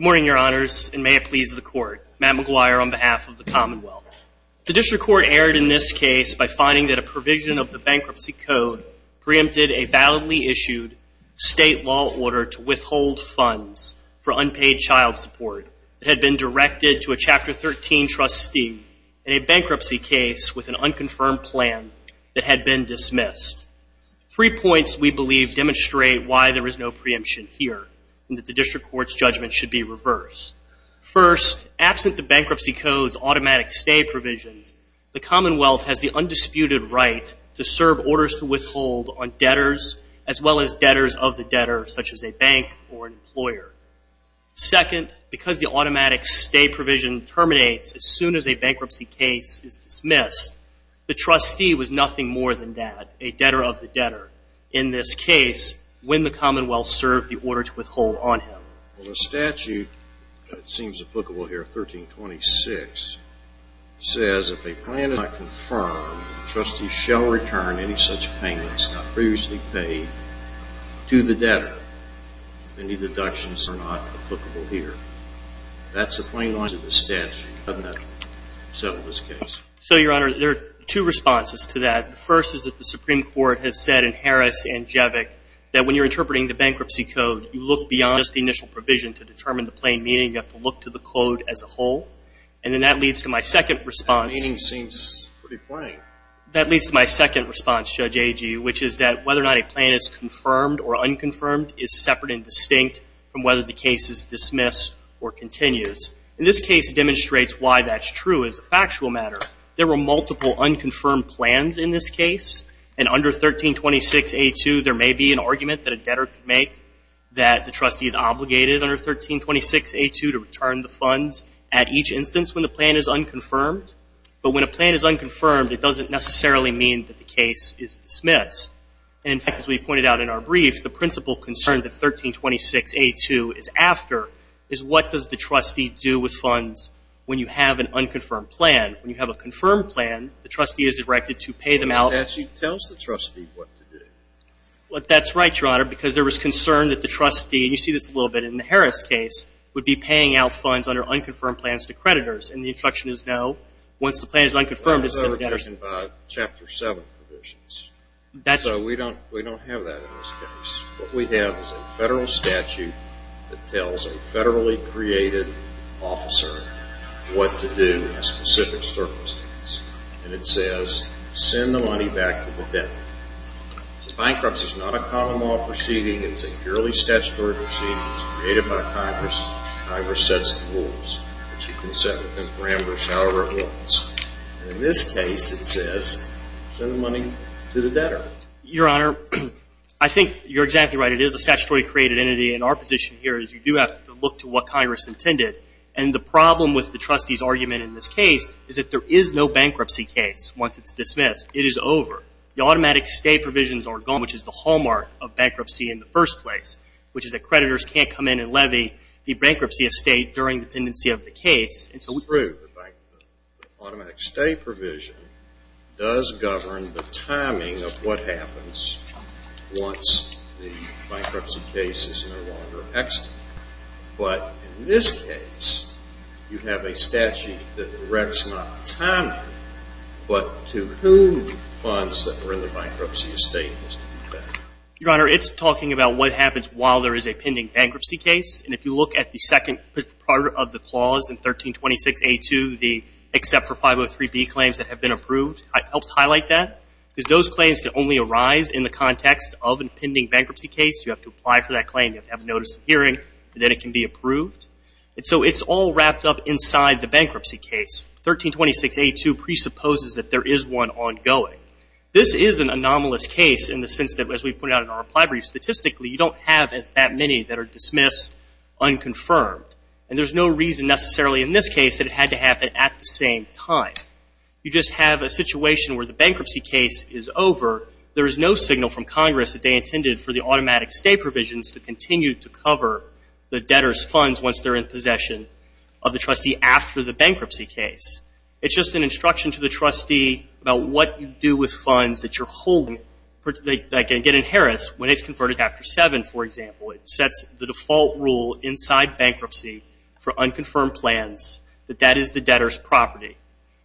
morning your honors and may it please the court Matt McGuire on behalf of the Commonwealth the district court erred in this case by finding that a provision of the bankruptcy code preempted a validly issued state law order to withhold funds for unpaid child support had been directed to a chapter 13 trustee in a bankruptcy case with an unconfirmed plan that had been dismissed three points we believe demonstrate why there is no preemption here that the district court's judgment should be reversed first absent the bankruptcy codes automatic stay provisions the Commonwealth has the undisputed right to serve orders to withhold on debtors as well as debtors of the debtor such as a bank or employer second because the automatic stay provision terminates as soon as a bankruptcy case is dismissed the trustee was nothing more than that a debtor of the debtor in this case when the Commonwealth served the order to withhold on him the statute seems applicable here 1326 says if a plan is not confirmed trustee shall return any such payments not previously paid to the debtor any deductions are not applicable here that's the plain lines of the statute doesn't that settle this case so your honor there are two responses to that first is that the Supreme Court has said in Harris and Jevic that when you're interpreting the bankruptcy code you look beyond just the initial provision to determine the plain meaning you have to look to the code as a whole and then that leads to my second response that leads to my second response Judge Agee which is that whether or not a plan is confirmed or unconfirmed is separate and distinct from whether the case is dismissed or continues in this case demonstrates why that's true as a factual matter there are multiple unconfirmed plans in this case and under 1326 a2 there may be an argument that a debtor can make that the trustee is obligated under 1326 a2 to return the funds at each instance when the plan is unconfirmed but when a plan is unconfirmed it doesn't necessarily mean that the case is dismissed and in fact as we pointed out in our brief the principal concern that 1326 a2 is after is what does the trustee do with funds when you have an unconfirmed plan when you have a confirmed plan the trustee is directed to pay them out that she tells the trustee what to do what that's right your honor because there was concerned that the trustee you see this a little bit in the Harris case would be paying out funds under unconfirmed plans to creditors and the instruction is no once the plan is unconfirmed chapter 7 that's so we don't we don't have that in this case what we have is a federal statute that tells a federally created officer what to do in a specific circumstance and it says send the money back to the debtor. Bankruptcy is not a common law proceeding it's a purely statutory proceedings created by Congress. Congress sets the rules which you can set within the parameters however it wants. In this case it says send the money to the debtor. Your honor I think you're exactly right it is a statutory created entity and our position here is you do have to look to what Congress intended and the problem with the trustees argument in this case is that there is no bankruptcy case once it's dismissed it is over the automatic stay provisions are gone which is the hallmark of bankruptcy in the first place which is that creditors can't come in and levy the bankruptcy estate during the pendency of the case and so we prove automatic stay provision does govern the timing of what happens once the bankruptcy case is no longer exited. But in this case you have a statute that directs not timing but to whom funds that are in the bankruptcy estate. Your honor it's talking about what happens while there is a pending bankruptcy case and if you look at the second part of the clause in 1326a2 the except for 503B claims that have been approved I helped highlight that because those claims can only arise in the context of a pending bankruptcy case you have to apply for that claim you have to have a notice of hearing and then it can be approved and so it's all wrapped up inside the bankruptcy case 1326a2 presupposes that there is one ongoing. This is an anomalous case in the sense that as we put out in our reply brief statistically you don't have as that many that are dismissed unconfirmed and there's no reason necessarily in this case that it had to happen at the same time. You just have a situation where the bankruptcy case is over there is no signal from Congress that they intended for the automatic stay provisions to continue to cover the debtors funds once they're in possession of the trustee after the bankruptcy case. It's just an instruction to the trustee about what you do with funds that you're holding that can get inherits when it's converted after 7 for example it sets the default rule inside bankruptcy for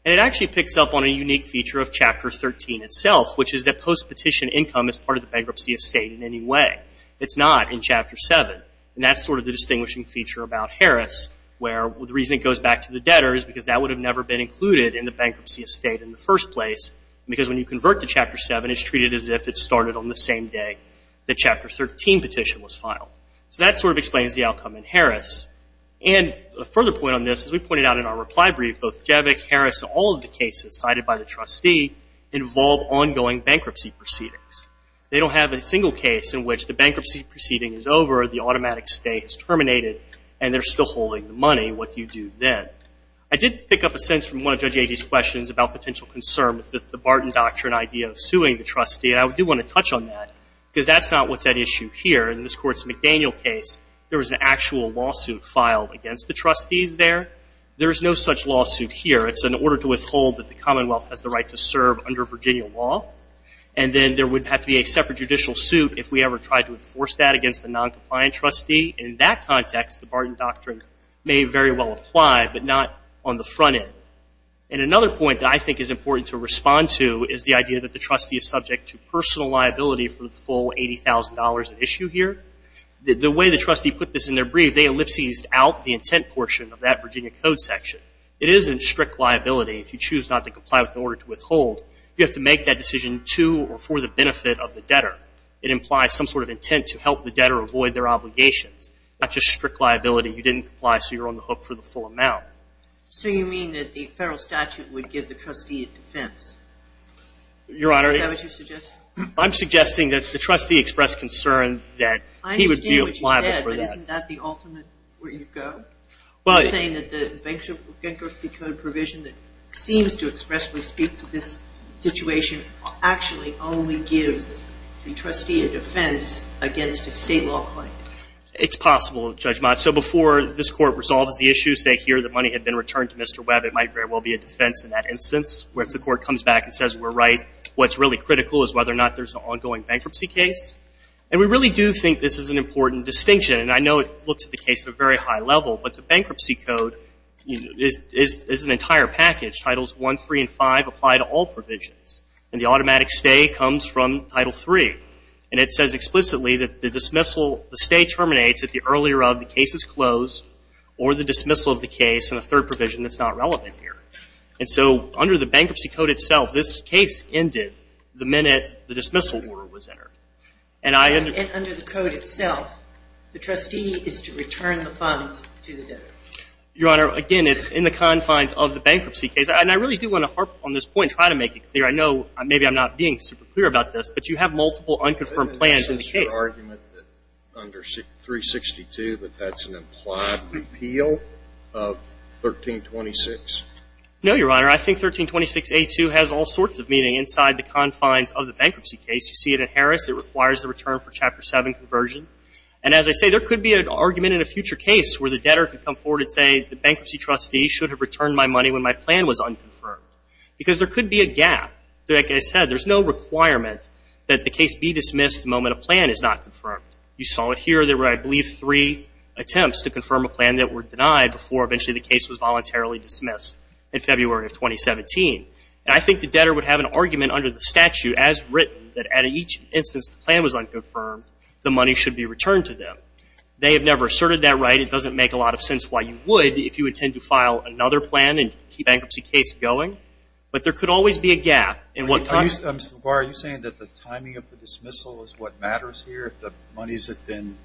It actually picks up on a unique feature of chapter 13 itself which is that post petition income is part of the bankruptcy estate in any way. It's not in chapter 7 and that's sort of the distinguishing feature about Harris where the reason it goes back to the debtors because that would have never been included in the bankruptcy estate in the first place because when you convert to chapter 7 it's treated as if it started on the same day the chapter 13 petition was filed. So that sort of explains the outcome in Harris and a further point on this as we pointed out in our reply brief both Javik Harris all of the cases cited by the trustee involve ongoing bankruptcy proceedings. They don't have a single case in which the bankruptcy proceeding is over the automatic stay is terminated and they're still holding the money what you do then. I did pick up a sense from one of Judge Agee's questions about potential concern with this the Barton doctrine idea of suing the trustee and I do want to touch on that because that's not what's at issue here in this court's McDaniel case there was an actual lawsuit filed against the trustees there. There's no such lawsuit here it's an order to withhold that the Commonwealth has the right to serve under Virginia law and then there would have to be a separate judicial suit if we ever tried to enforce that against the non-compliant trustee in that context the Barton doctrine may very well apply but not on the front end. And another point I think is important to respond to is the idea that the trustee is subject to personal liability for the full $80,000 at issue here. The way the trustees in their brief they ellipses out the intent portion of that Virginia code section. It isn't strict liability if you choose not to comply with the order to withhold. You have to make that decision to or for the benefit of the debtor. It implies some sort of intent to help the debtor avoid their obligations not just strict liability you didn't apply so you're on the hook for the full amount. So you mean that the federal statute would give the trustee a defense? Your Honor. Is that what you suggest? I'm suggesting that if the trustee expressed concern that he would be liable for that. But isn't that the ultimate where you go? Well You're saying that the Bankruptcy Code provision that seems to expressly speak to this situation actually only gives the trustee a defense against a state law claim. It's possible, Judge Mott. So before this Court resolves the issue say here the money had been returned to Mr. Webb it might very well be a defense in that instance where if the Court comes back and says we're right what's really critical is whether or not there's an ongoing bankruptcy case. And we really do think this is an important distinction. And I know it looks at the case at a very high level but the Bankruptcy Code is an entire package. Titles 1, 3, and 5 apply to all provisions. And the automatic stay comes from Title 3. And it says explicitly that the dismissal, the stay terminates at the earlier of the case is closed or the dismissal of the case in the third provision that's not relevant here. And so under the Bankruptcy Code itself this case ended the minute the dismissal order was entered. And I think it's important to note that under the Bankruptcy Code itself the trustee is to return the funds to the debtor. Your Honor, again it's in the confines of the bankruptcy case. And I really do want to harp on this point and try to make it clear. I know maybe I'm not being super clear about this, but you have multiple unconfirmed plans in the case. Isn't there some sort of argument under 362 that that's an implied repeal of 1326? No, Your Honor. I think 1326A2 has all sorts of meaning inside the confines of the unconfirmed plan conversion. And as I say, there could be an argument in a future case where the debtor could come forward and say the bankruptcy trustee should have returned my money when my plan was unconfirmed. Because there could be a gap. Like I said, there's no requirement that the case be dismissed the moment a plan is not confirmed. You saw it here. There were, I believe, three attempts to confirm a plan that were denied before eventually the case was voluntarily dismissed in February of 2017. And I think the debtor would have an argument under the statute as written that at each instance the plan was unconfirmed, the money should be returned to them. They have never asserted that right. It doesn't make a lot of sense why you would if you intend to file another plan and keep a bankruptcy case going. But there could always be a gap in what time. Mr. LaGuardia, are you saying that the timing of the dismissal is what matters here? If the money has been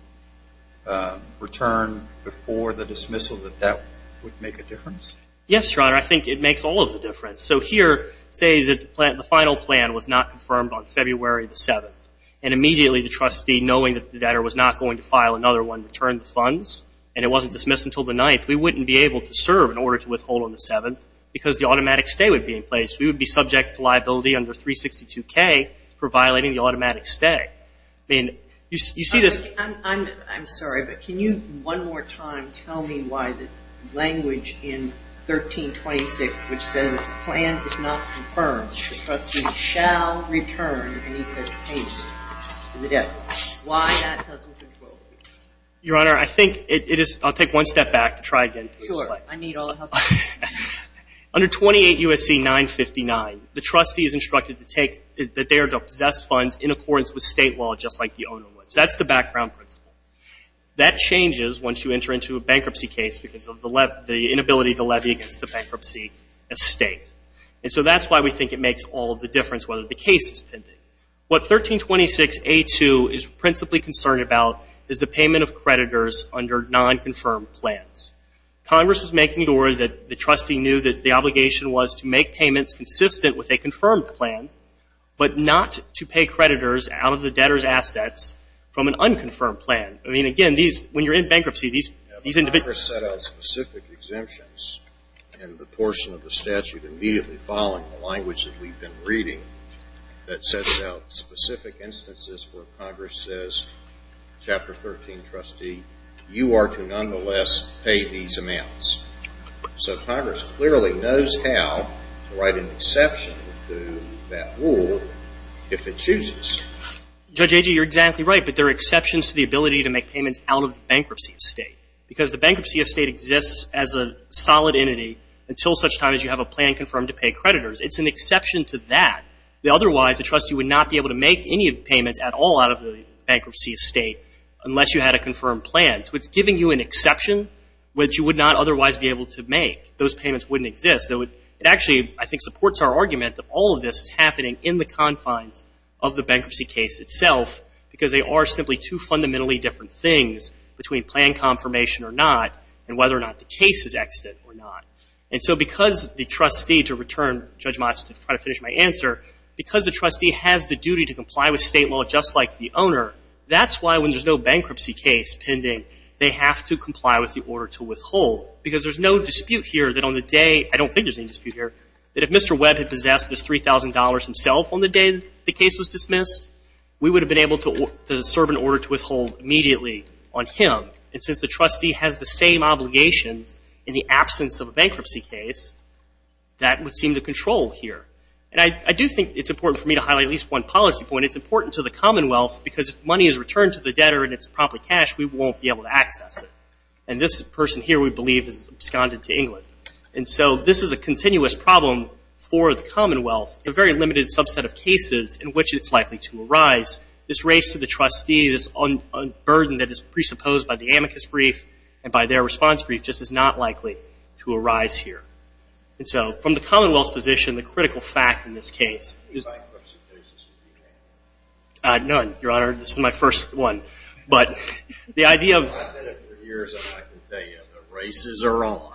returned before the dismissal, that that would make a difference? Yes, Your Honor. I think it makes all of the difference. So here, say the final plan was not confirmed on February the 7th. And immediately the trustee, knowing that the debtor was not going to file another one to return the funds, and it wasn't dismissed until the 9th, we wouldn't be able to serve in order to withhold on the 7th because the automatic stay would be in place. We would be subject to liability under 362K for violating the automatic stay. I mean, you see this... I'm sorry, but can you one more time tell me why the language in 1326, which says the plan is not confirmed, the trustee shall return any such payment to the debtor. Why that doesn't control the case? Your Honor, I think it is – I'll take one step back to try again. Sure. I need all the help I can get. Under 28 U.S.C. 959, the trustee is instructed to take – that they are to possess funds in accordance with State law, just like the owner would. So that's the background principle. That changes once you enter into a bankruptcy case because of the inability to levy against the bankruptcy estate. And so that's why we think it makes all of the difference whether the case is pending. What 1326A2 is principally concerned about is the payment of creditors under non-confirmed plans. Congress was making sure that the trustee knew that the obligation was to make payments consistent with a confirmed plan, but not to pay creditors out of the debtor's assets from an unconfirmed plan. I mean, again, these – when you're in bankruptcy, these individuals... ...specific exemptions and the portion of the statute immediately following the language that we've been reading that sets out specific instances where Congress says, Chapter 13, trustee, you are to nonetheless pay these amounts. So Congress clearly knows how to write an exception to that rule if it chooses. Judge Agee, you're exactly right, but there are exceptions to the ability to make this as a solid entity until such time as you have a plan confirmed to pay creditors. It's an exception to that. Otherwise, the trustee would not be able to make any payments at all out of the bankruptcy estate unless you had a confirmed plan. So it's giving you an exception which you would not otherwise be able to make. Those payments wouldn't exist. So it actually, I think, supports our argument that all of this is happening in the confines of the bankruptcy case itself because they are simply two fundamentally different things between plan confirmation or not and whether or not the case is exited or not. And so because the trustee, to return Judge Motz to try to finish my answer, because the trustee has the duty to comply with state law just like the owner, that's why when there's no bankruptcy case pending, they have to comply with the order to withhold. Because there's no dispute here that on the day, I don't think there's any dispute here, that if Mr. Webb had possessed this $3,000 himself on the day the case was dismissed, we would have been able to serve an order to withhold immediately on him. And since the trustee has the same obligations in the absence of a bankruptcy case, that would seem to control here. And I do think it's important for me to highlight at least one policy point. It's important to the Commonwealth because if money is returned to the debtor and it's a promptly cashed, we won't be able to access it. And this person here, we believe, is absconded to England. And so this is a continuous problem for the Commonwealth, a very limited subset of cases in which it's a burden that is presupposed by the amicus brief and by their response brief just is not likely to arise here. And so from the Commonwealth's position, the critical fact in this case is... How many bankruptcy cases have you handled? None, Your Honor. This is my first one. But the idea of... I've done it for years and I can tell you, the races are on.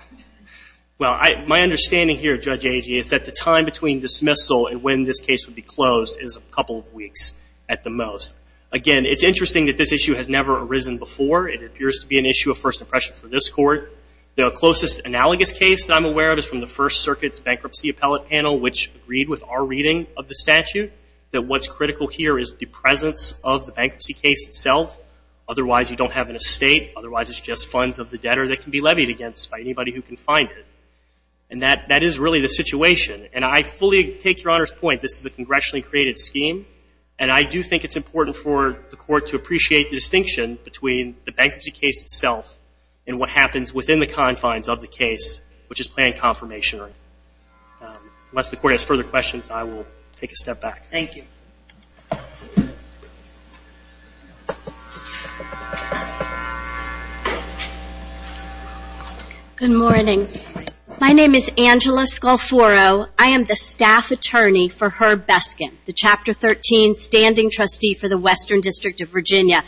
Well, my understanding here, Judge Agee, is that the time between dismissal and when this case would be closed is a couple of weeks at the most. Again, it's interesting that this issue has never arisen before. It appears to be an issue of first impression for this Court. The closest analogous case that I'm aware of is from the First Circuit's Bankruptcy Appellate Panel, which agreed with our reading of the statute that what's critical here is the presence of the bankruptcy case itself. Otherwise, you don't have an estate. Otherwise, it's just funds of the debtor that can be levied against by anybody who can find it. And that is really the situation. And I fully take Your Honor's point. This is a congressionally created scheme. And I do think it's important for the Court to appreciate the distinction between the bankruptcy case itself and what happens within the confines of the case, which is planned confirmation. Unless the Court has further questions, I will take a step back. Thank you. Good morning. My name is Angela Scolfuro. I am the staff attorney for Herb Weston District of Virginia.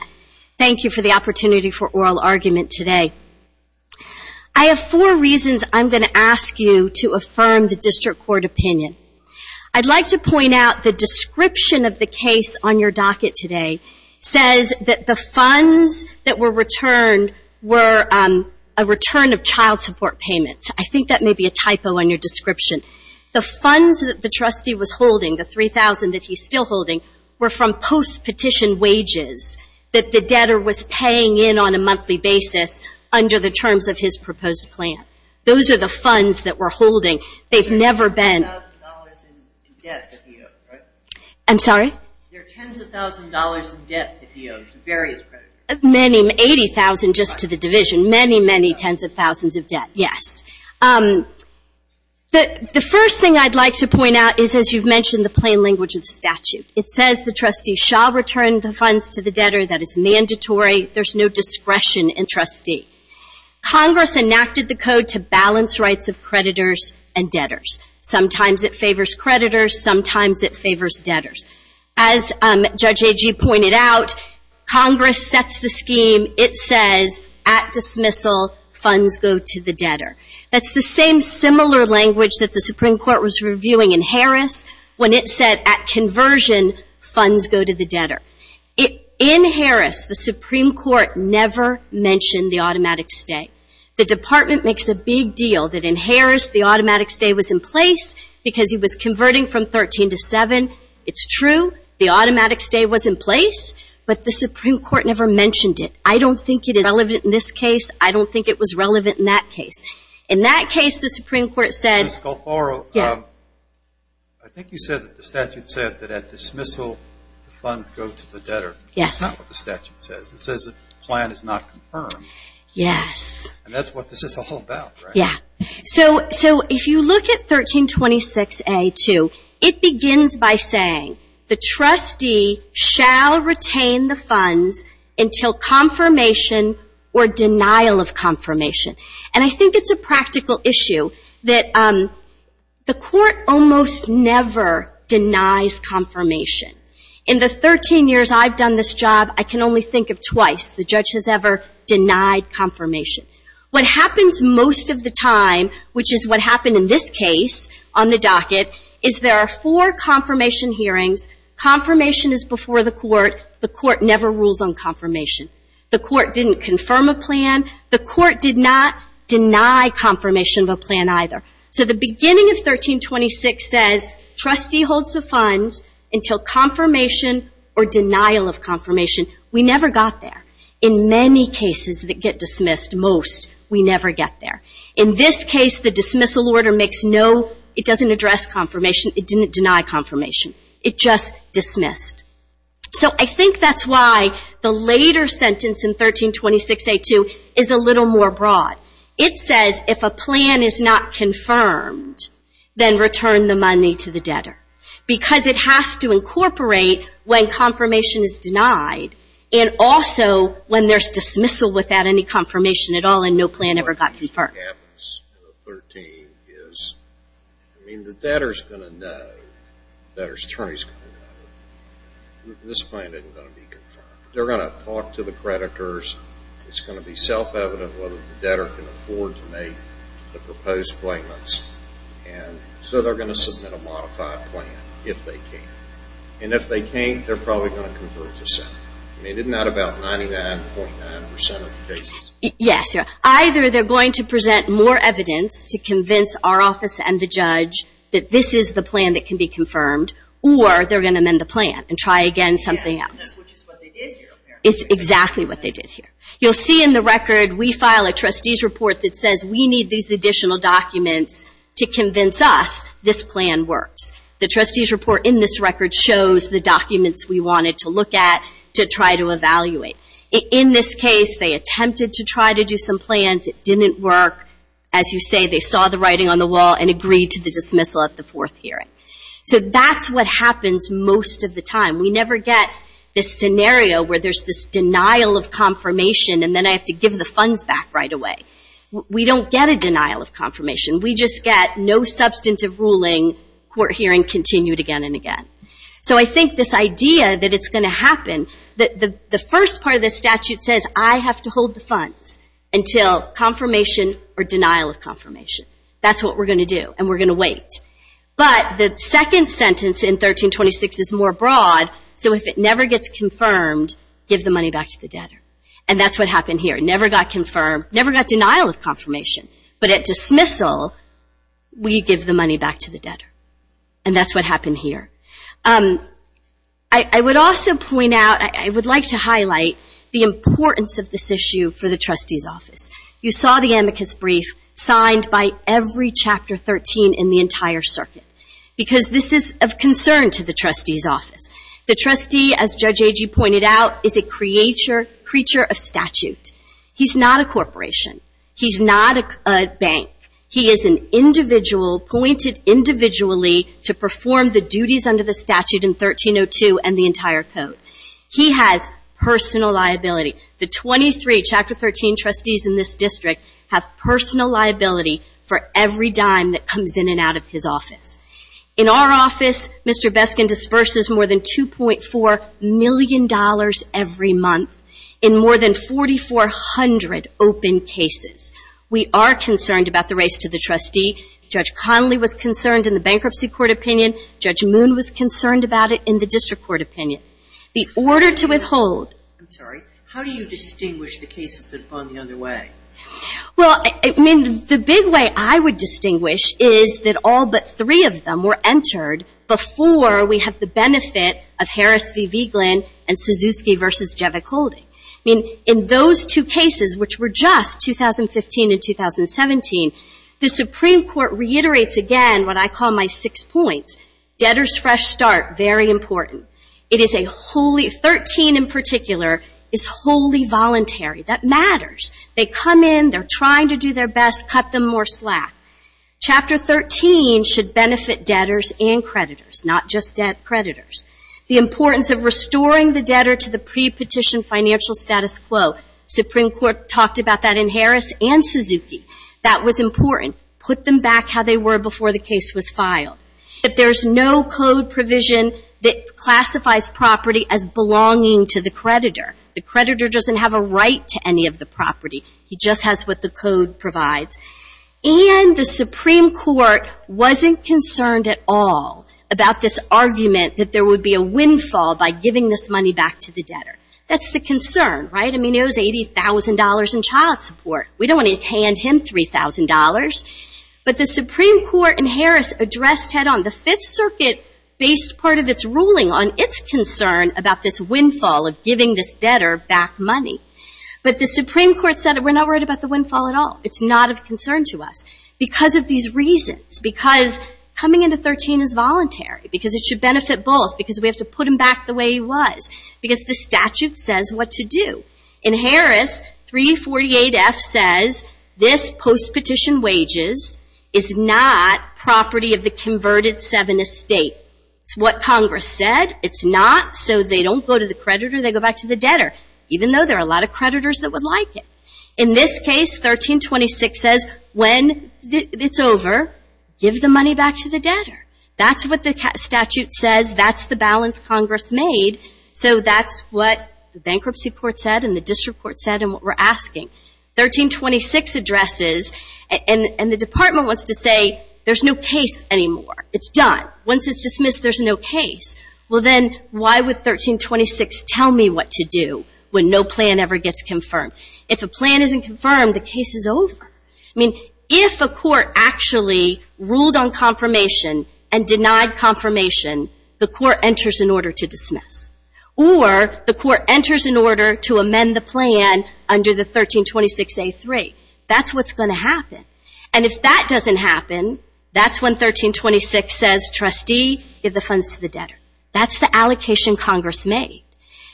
Thank you for the opportunity for oral argument today. I have four reasons I'm going to ask you to affirm the District Court opinion. I'd like to point out the description of the case on your docket today says that the funds that were returned were a return of child support payments. I think that may be a typo on your description. The funds that the debtor was paying in on a monthly basis under the terms of his proposed plan. Those are the funds that we're holding. They've never been There are tens of thousands of dollars in debt that he owes, right? I'm sorry? There are tens of thousands of dollars in debt that he owes to various creditors. Many. Eighty thousand just to the division. Many, many tens of thousands of debt, yes. The first thing I'd like to point out is, as you've mentioned, the funds to the debtor, that is mandatory. There's no discretion in trustee. Congress enacted the code to balance rights of creditors and debtors. Sometimes it favors creditors. Sometimes it favors debtors. As Judge Agee pointed out, Congress sets the scheme. It says, at dismissal, funds go to the debtor. That's the same similar language that the Supreme Court was In Harris, the Supreme Court never mentioned the automatic stay. The department makes a big deal that in Harris, the automatic stay was in place because he was converting from 13 to 7. It's true. The automatic stay was in place, but the Supreme Court never mentioned it. I don't think it is relevant in this case. I don't think it was relevant in that case. In that case, the Supreme Court said Ms. Galforo, I think you said that the statute said that at dismissal, funds go to the debtor. Yes. That's not what the statute says. It says the plan is not confirmed. Yes. And that's what this is all about, right? Yeah. So if you look at 1326A2, it begins by saying the trustee shall retain the funds until confirmation or denial of confirmation. And I think it's a practical issue that the court almost never denies confirmation. In the 13 years I've done this job, I can only think of twice the judge has ever denied confirmation. What happens most of the time, which is what happened in this case on the docket, is there are four confirmation hearings. Confirmation is before the court. The court never rules on confirmation. The court didn't confirm a plan either. So the beginning of 1326 says trustee holds the funds until confirmation or denial of confirmation. We never got there. In many cases that get dismissed, most, we never get there. In this case, the dismissal order doesn't address confirmation. It didn't deny confirmation. It just dismissed. So I think that's why the later sentence in 1326A2 is a little more broad. It says if a plan is not confirmed, then return the money to the debtor. Because it has to incorporate when confirmation is denied and also when there's dismissal without any confirmation at all and no plan ever got confirmed. What happens in 13 is, I mean, the debtor's going to know, the debtor's attorney's going to know, this plan isn't going to be confirmed. They're going to be self-evident whether the debtor can afford to make the proposed claimants. And so they're going to submit a modified plan if they can. And if they can't, they're probably going to convert to Senate. I mean, isn't that about 99.9% of the cases? Yes. Either they're going to present more evidence to convince our office and the judge that this is the plan that can be confirmed, or they're going to amend the plan and try again something else. Which is what they did here, apparently. It's exactly what they did here. You'll see in the record, we file a trustee's report that says we need these additional documents to convince us this plan works. The trustee's report in this record shows the documents we wanted to look at to try to evaluate. In this case, they attempted to try to do some plans. It didn't work. As you say, they saw the writing on the wall and agreed to the dismissal at the fourth hearing. So that's what happens most of the time. We never get this scenario where there's this denial of confirmation and then I have to give the funds back right away. We don't get a denial of confirmation. We just get no substantive ruling, court hearing continued again and again. So I think this idea that it's going to happen, the first part of the statute says I have to hold the funds until confirmation or denial of confirmation. That's what we're going to do. And we're going to wait. But the second sentence in 1326 is more broad. So if it never gets confirmed, give the money back to the debtor. And that's what happened here. It never got confirmed, never got denial of confirmation. But at dismissal, we give the money back to the debtor. And that's what happened here. I would also point out, I would like to highlight the importance of this issue for the trustee's office. You saw the amicus brief signed by every chapter 13 in the entire circuit. Because this is of concern to the trustee's office. The trustee, as Judge Agee pointed out, is a creature of statute. He's not a corporation. He's not a bank. He is an individual appointed individually to perform the duties under the statute in 1302 and the entire code. He has personal liability. The 23 chapter 13 trustees in this In our office, Mr. Beskin disperses more than $2.4 million every month in more than 4,400 open cases. We are concerned about the race to the trustee. Judge Connolly was concerned in the bankruptcy court opinion. Judge Moon was concerned about it in the district court opinion. The order to withhold. I'm sorry. How do you distinguish the cases that have gone the other way? Well, I mean, the big way I would distinguish is that all but three of them were entered before we have the benefit of Harris v. Vigeland and Suzuki v. Jevick-Holding. I mean, in those two cases, which were just 2015 and 2017, the Supreme Court reiterates again what I call my six points. Debtor's fresh start, very important. It is a wholly, 13 in That matters. They come in, they're trying to do their best, cut them more slack. Chapter 13 should benefit debtors and creditors, not just debt creditors. The importance of restoring the debtor to the pre-petition financial status quo. Supreme Court talked about that in Harris and Suzuki. That was important. Put them back how they were before the case was filed. That there's no code provision that classifies property as belonging to the creditor. The creditor doesn't have a right to any of the property. He just has what the code provides. And the Supreme Court wasn't concerned at all about this argument that there would be a windfall by giving this money back to the debtor. That's the concern, right? I mean, it was $80,000 in child support. We don't want to hand him $3,000. But the Supreme Court in Harris addressed head on. The Fifth Circuit based part of its ruling on its concern about this windfall of giving this debtor back money. But the Supreme Court said we're not worried about the windfall at all. It's not of concern to us. Because of these reasons. Because coming into 13 is voluntary. Because it should benefit both. Because we have to put him back the way he was. Because the statute says what to do. In Harris, 348F says this post-petition wages is not property of the converted seven estate. It's what Congress said. It's not. So they don't go to the creditor. They go back to the debtor. Even though there are a lot of creditors that would like it. In this case, 1326 says when it's over, give the money back to the debtor. That's what the statute says. That's the balance Congress made. So that's what the bankruptcy court said and the district court said and what we're asking. 1326 addresses. And the department wants to say there's no case anymore. It's done. Once it's dismissed, there's no case. Well, then, why would 1326 tell me what to do when no plan ever gets confirmed? If a plan isn't confirmed, the case is over. I mean, if a court actually ruled on confirmation and denied confirmation, the court enters an order to dismiss. Or the court enters an order to amend the plan under the 1326A3. That's what's going to happen. And if that doesn't happen, that's when 1326 says, trustee, give the funds to the debtor. That's the allocation Congress made.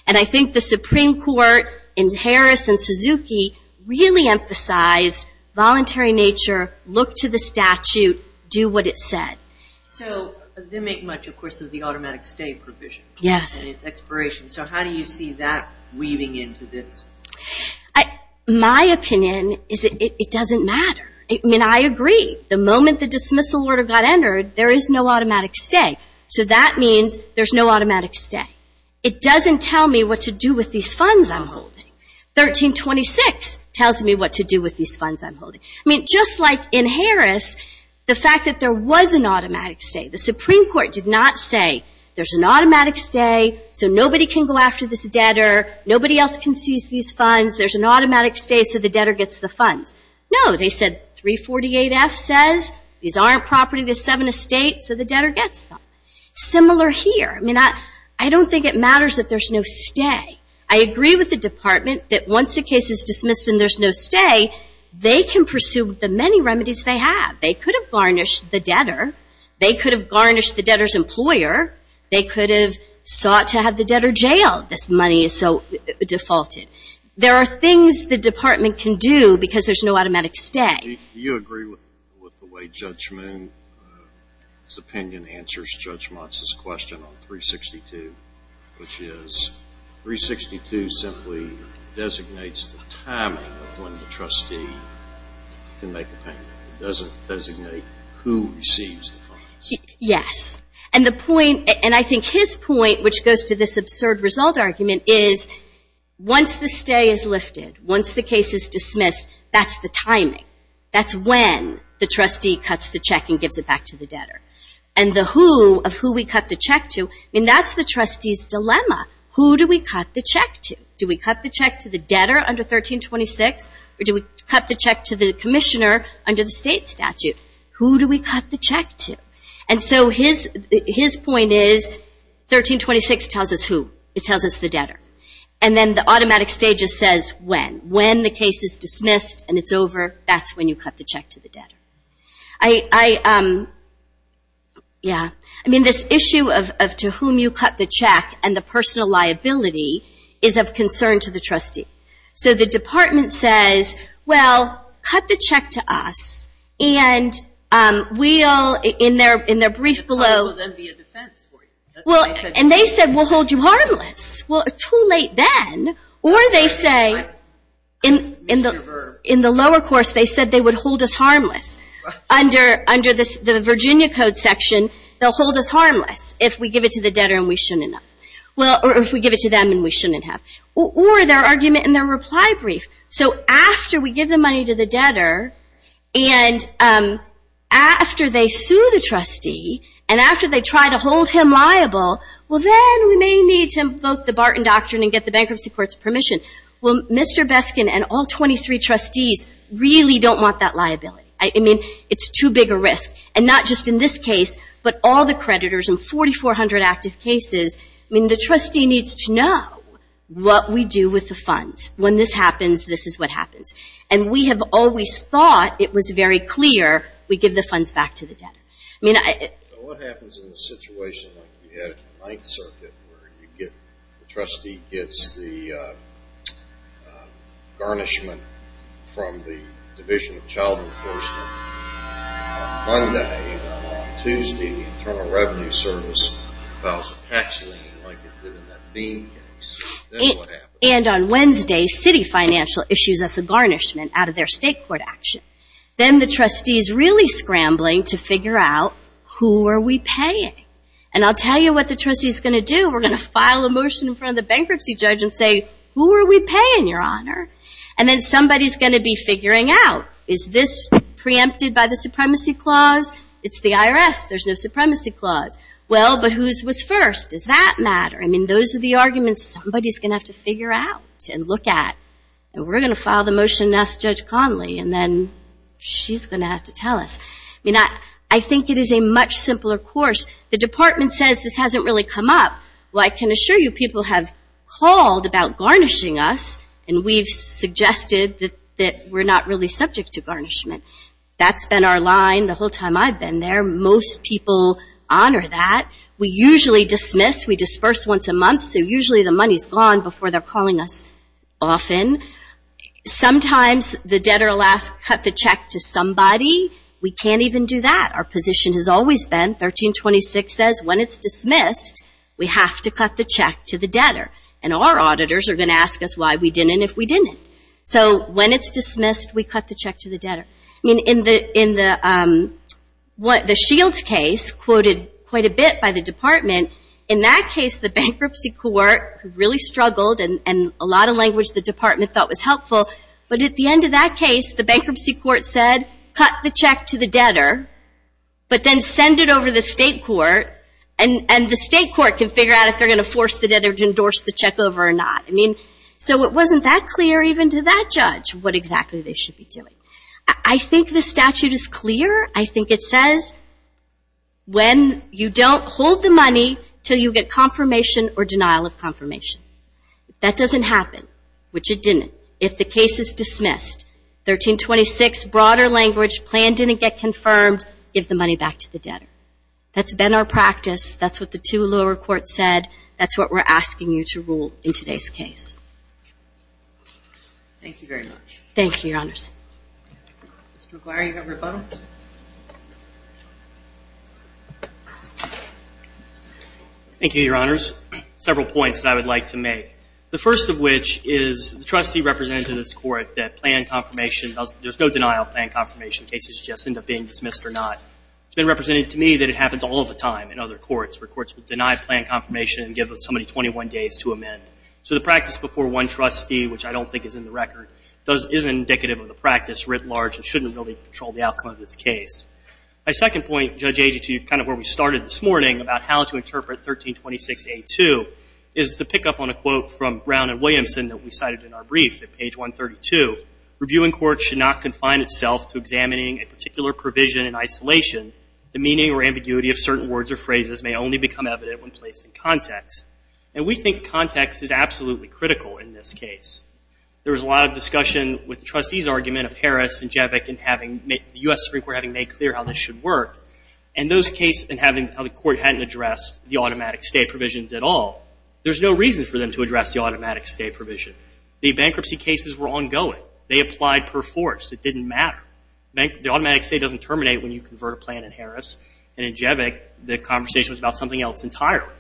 And I think the Supreme Court in Harris and Suzuki really emphasized voluntary nature, look to the statute, do what it said. So they make much, of course, of the automatic stay provision and its expiration. So how do you see that weaving into this? My opinion is it doesn't matter. I mean, I agree. The moment the dismissal order got entered, there is no automatic stay. So that means there's no automatic stay. It doesn't tell me what to do with these funds I'm holding. 1326 tells me what to do with these funds I'm holding. I mean, just like in Harris, the fact that there was an automatic stay, the Supreme Court did not say there's an automatic stay, so nobody can go after this funds. There's an automatic stay, so the debtor gets the funds. No, they said 348F says these aren't property, the seven estate, so the debtor gets them. Similar here. I mean, I don't think it matters that there's no stay. I agree with the department that once the case is dismissed and there's no stay, they can pursue the many remedies they have. They could have garnished the debtor. They could have garnished the debtor's employer. They could have sought to have the debtor jailed. This money is so defaulted. There are things the department can do because there's no automatic stay. Do you agree with the way Judge Moon's opinion answers Judge Motz's question on 362, which is 362 simply designates the timing of when the trustee can make a payment. It doesn't designate who receives the funds. Yes. And the point, and I think his point, which goes to this absurd result argument, is once the stay is lifted, once the case is dismissed, that's the timing. That's when the trustee cuts the check and gives it back to the debtor. And the who of who we cut the check to, I mean, that's the trustee's dilemma. Who do we cut the check to? Do we cut the check to the debtor under 1326, or do we cut the check to the commissioner under the state statute? Who do we cut the check to? And so his point is 1326 tells us who. It tells us the debtor. And then the automatic stay just says when. When the case is dismissed and it's over, that's when you cut the check to the debtor. I mean, this issue of to whom you cut the check and the personal liability is of concern to the trustee. So the department says, well, cut the check to us, and we'll, in their brief below, and they said we'll hold you harmless. Well, too late then. Or they say, in the lower course, they said they would hold us harmless. Under the Virginia Code section, they'll hold us harmless if we give it to the debtor and we shouldn't have. Or if we give it to them and we shouldn't have. Or their argument in their reply brief. So after we give the money to the debtor, and after they sue the trustee, and after they try to hold him liable, well, then we may need to invoke the Barton Doctrine and get the Bankruptcy Court's permission. Well, Mr. Beskin and all 23 trustees really don't want that liability. I mean, it's too big a risk. And not just in this case, but all the creditors in 4,400 active cases. I mean, the trustee needs to know what we do with the funds. When this happens, this is what happens. And we have always thought it was very clear we give the funds back to the debtor. I mean, I So what happens in a situation like you had in the Ninth Circuit where you get, the trustee gets the garnishment from the Division of Child Enforcement on Monday, while on Tuesday the Internal Revenue Service files a tax lien like they did in that Bean case. Then what happens? And on Wednesday, Citi Financial issues us a garnishment out of their state court action. Then the trustee's really scrambling to figure out, who are we paying? And I'll tell you what the trustee's going to do. We're going to file a motion in front of the bankruptcy judge and say, who are we paying, Your Honor? And then somebody's going to be figuring out, is this preempted by the Supremacy Clause? It's the IRS. There's no Supremacy Clause. Well, but whose was first? Does that matter? I mean, those are the arguments somebody's going to have to figure out and look at. And we're going to file the motion and ask Judge Conley, and then she's going to have to tell us. I mean, I think it is a much simpler course. The Department says this hasn't really come up. Well, I can assure you people have called about garnishing us, and we've suggested that we're not really subject to that. We usually dismiss. We disperse once a month, so usually the money's gone before they're calling us often. Sometimes the debtor will ask, cut the check to somebody. We can't even do that. Our position has always been, 1326 says, when it's dismissed, we have to cut the check to the debtor. And our auditors are going to ask us why we didn't if we didn't. So when it's dismissed, we cut the check to the debtor. I mean, in the Shields case, quoted quite a bit by the Department, in that case, the bankruptcy court really struggled, and a lot of language the Department thought was helpful. But at the end of that case, the bankruptcy court said, cut the check to the debtor, but then send it over to the state court, and the state court can figure out if they're going to force the debtor to endorse the check over or not. I mean, so it wasn't that clear even to that judge what exactly they said. It says when you don't hold the money until you get confirmation or denial of confirmation. That doesn't happen, which it didn't, if the case is dismissed. 1326, broader language, plan didn't get confirmed, give the money back to the debtor. That's been our practice. That's what the two lower courts said. That's what we're asking you to rule in today's case. Thank you very much. Thank you, Your Honors. Mr. McGuire, you have a rebuttal? Thank you, Your Honors. Several points that I would like to make. The first of which is, the trustee represented in this court that plan confirmation doesn't, there's no denial of plan confirmation. Cases just end up being dismissed or not. It's been represented to me that it happens all of the time in other courts, where courts would deny plan confirmation and give somebody another 21 days to amend. So the practice before one trustee, which I don't think is in the record, is indicative of the practice writ large and shouldn't really control the outcome of this case. My second point, Judge Agee, to kind of where we started this morning about how to interpret 1326A2, is to pick up on a quote from Brown and Williamson that we cited in our brief at page 132. Reviewing court should not confine itself to examining a particular provision in isolation. The meaning or ambiguity of certain words or phrases may only become evident when placed in context. And we think context is absolutely critical in this case. There was a lot of discussion with the trustees' argument of Harris and Jevick and having, the U.S. Supreme Court having made clear how this should work. And those cases, and having how the court hadn't addressed the automatic stay provisions at all, there's no reason for them to address the automatic stay provisions. The bankruptcy cases were ongoing. They applied per force. It didn't matter. The automatic stay doesn't terminate when you convert a plan in Harris. And in Jevick, the conversation was about something else entirely.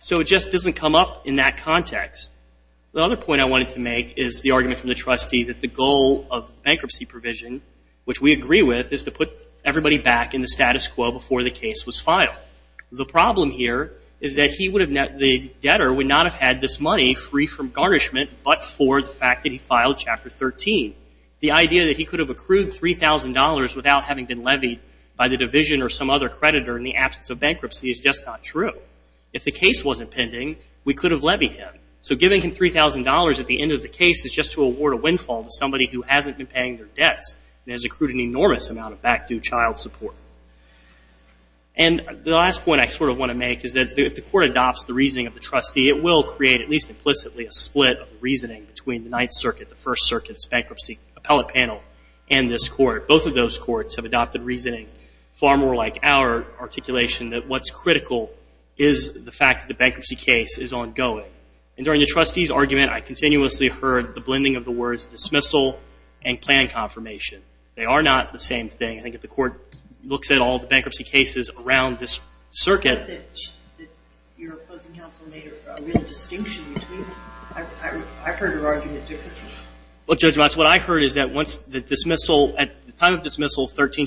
So it just doesn't come up in that context. The other point I wanted to make is the argument from the trustee that the goal of bankruptcy provision, which we agree with, is to put everybody back in the status quo before the case was filed. The problem here is that he would have, the debtor would not have had this money free from garnishment but for the fact that he filed Chapter 13. The idea that he could have accrued $3,000 without having been levied by the division or some other party. If the case wasn't pending, we could have levied him. So giving him $3,000 at the end of the case is just to award a windfall to somebody who hasn't been paying their debts and has accrued an enormous amount of back-due child support. And the last point I sort of want to make is that if the court adopts the reasoning of the trustee, it will create at least implicitly a split of reasoning between the Ninth Circuit, the First Circuit's bankruptcy appellate panel, and this court. Both of those courts have adopted reasoning far more like our articulation that what's critical is the fact that the bankruptcy case is ongoing. And during the trustee's argument, I continuously heard the blending of the words dismissal and plan confirmation. They are not the same thing. I think if the court looks at all the bankruptcy cases around this circuit... Your opposing counsel made a real distinction between them. I heard her argument differently. Well, Judge Watts, what I heard is that once the dismissal, at the time of the dismissal, the plan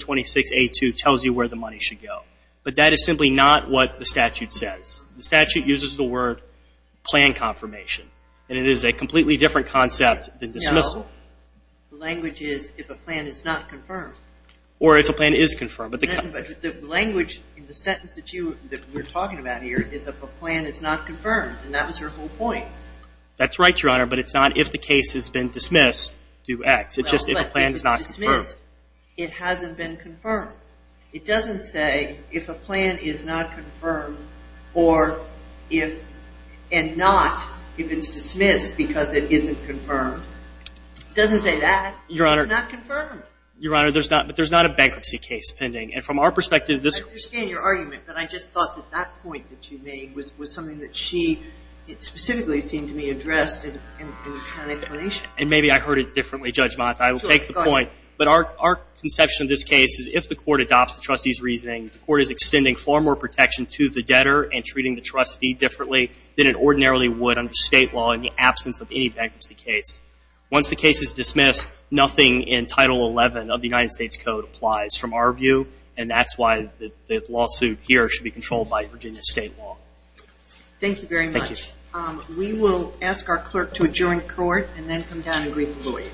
confirmation is a completely different concept than dismissal. No. The language is if a plan is not confirmed. Or if a plan is confirmed. The language in the sentence that you're talking about here is if a plan is not confirmed. And that was her whole point. That's right, Your Honor, but it's not if the case has been dismissed, do X. It's just if a plan is not confirmed. Well, if it's dismissed, it hasn't been confirmed. It doesn't say that the plan is not confirmed. And not if it's dismissed because it isn't confirmed. It doesn't say that. It's not confirmed. Your Honor, but there's not a bankruptcy case pending. I understand your argument, but I just thought that that point that you made was something that she specifically seemed to me addressed in the plan explanation. And maybe I heard it differently, Judge Watts. I will take the point. But our conception of this case is if the court adopts the trustee's reasoning, the court is extending far more protection to the debtor and treating the trustee differently than it ordinarily would under state law in the absence of any bankruptcy case. Once the case is dismissed, nothing in Title 11 of the United States Code applies from our view. And that's why the lawsuit here should be controlled by Virginia state law. Thank you very much. We will ask our clerk to adjourn court and then come down and greet the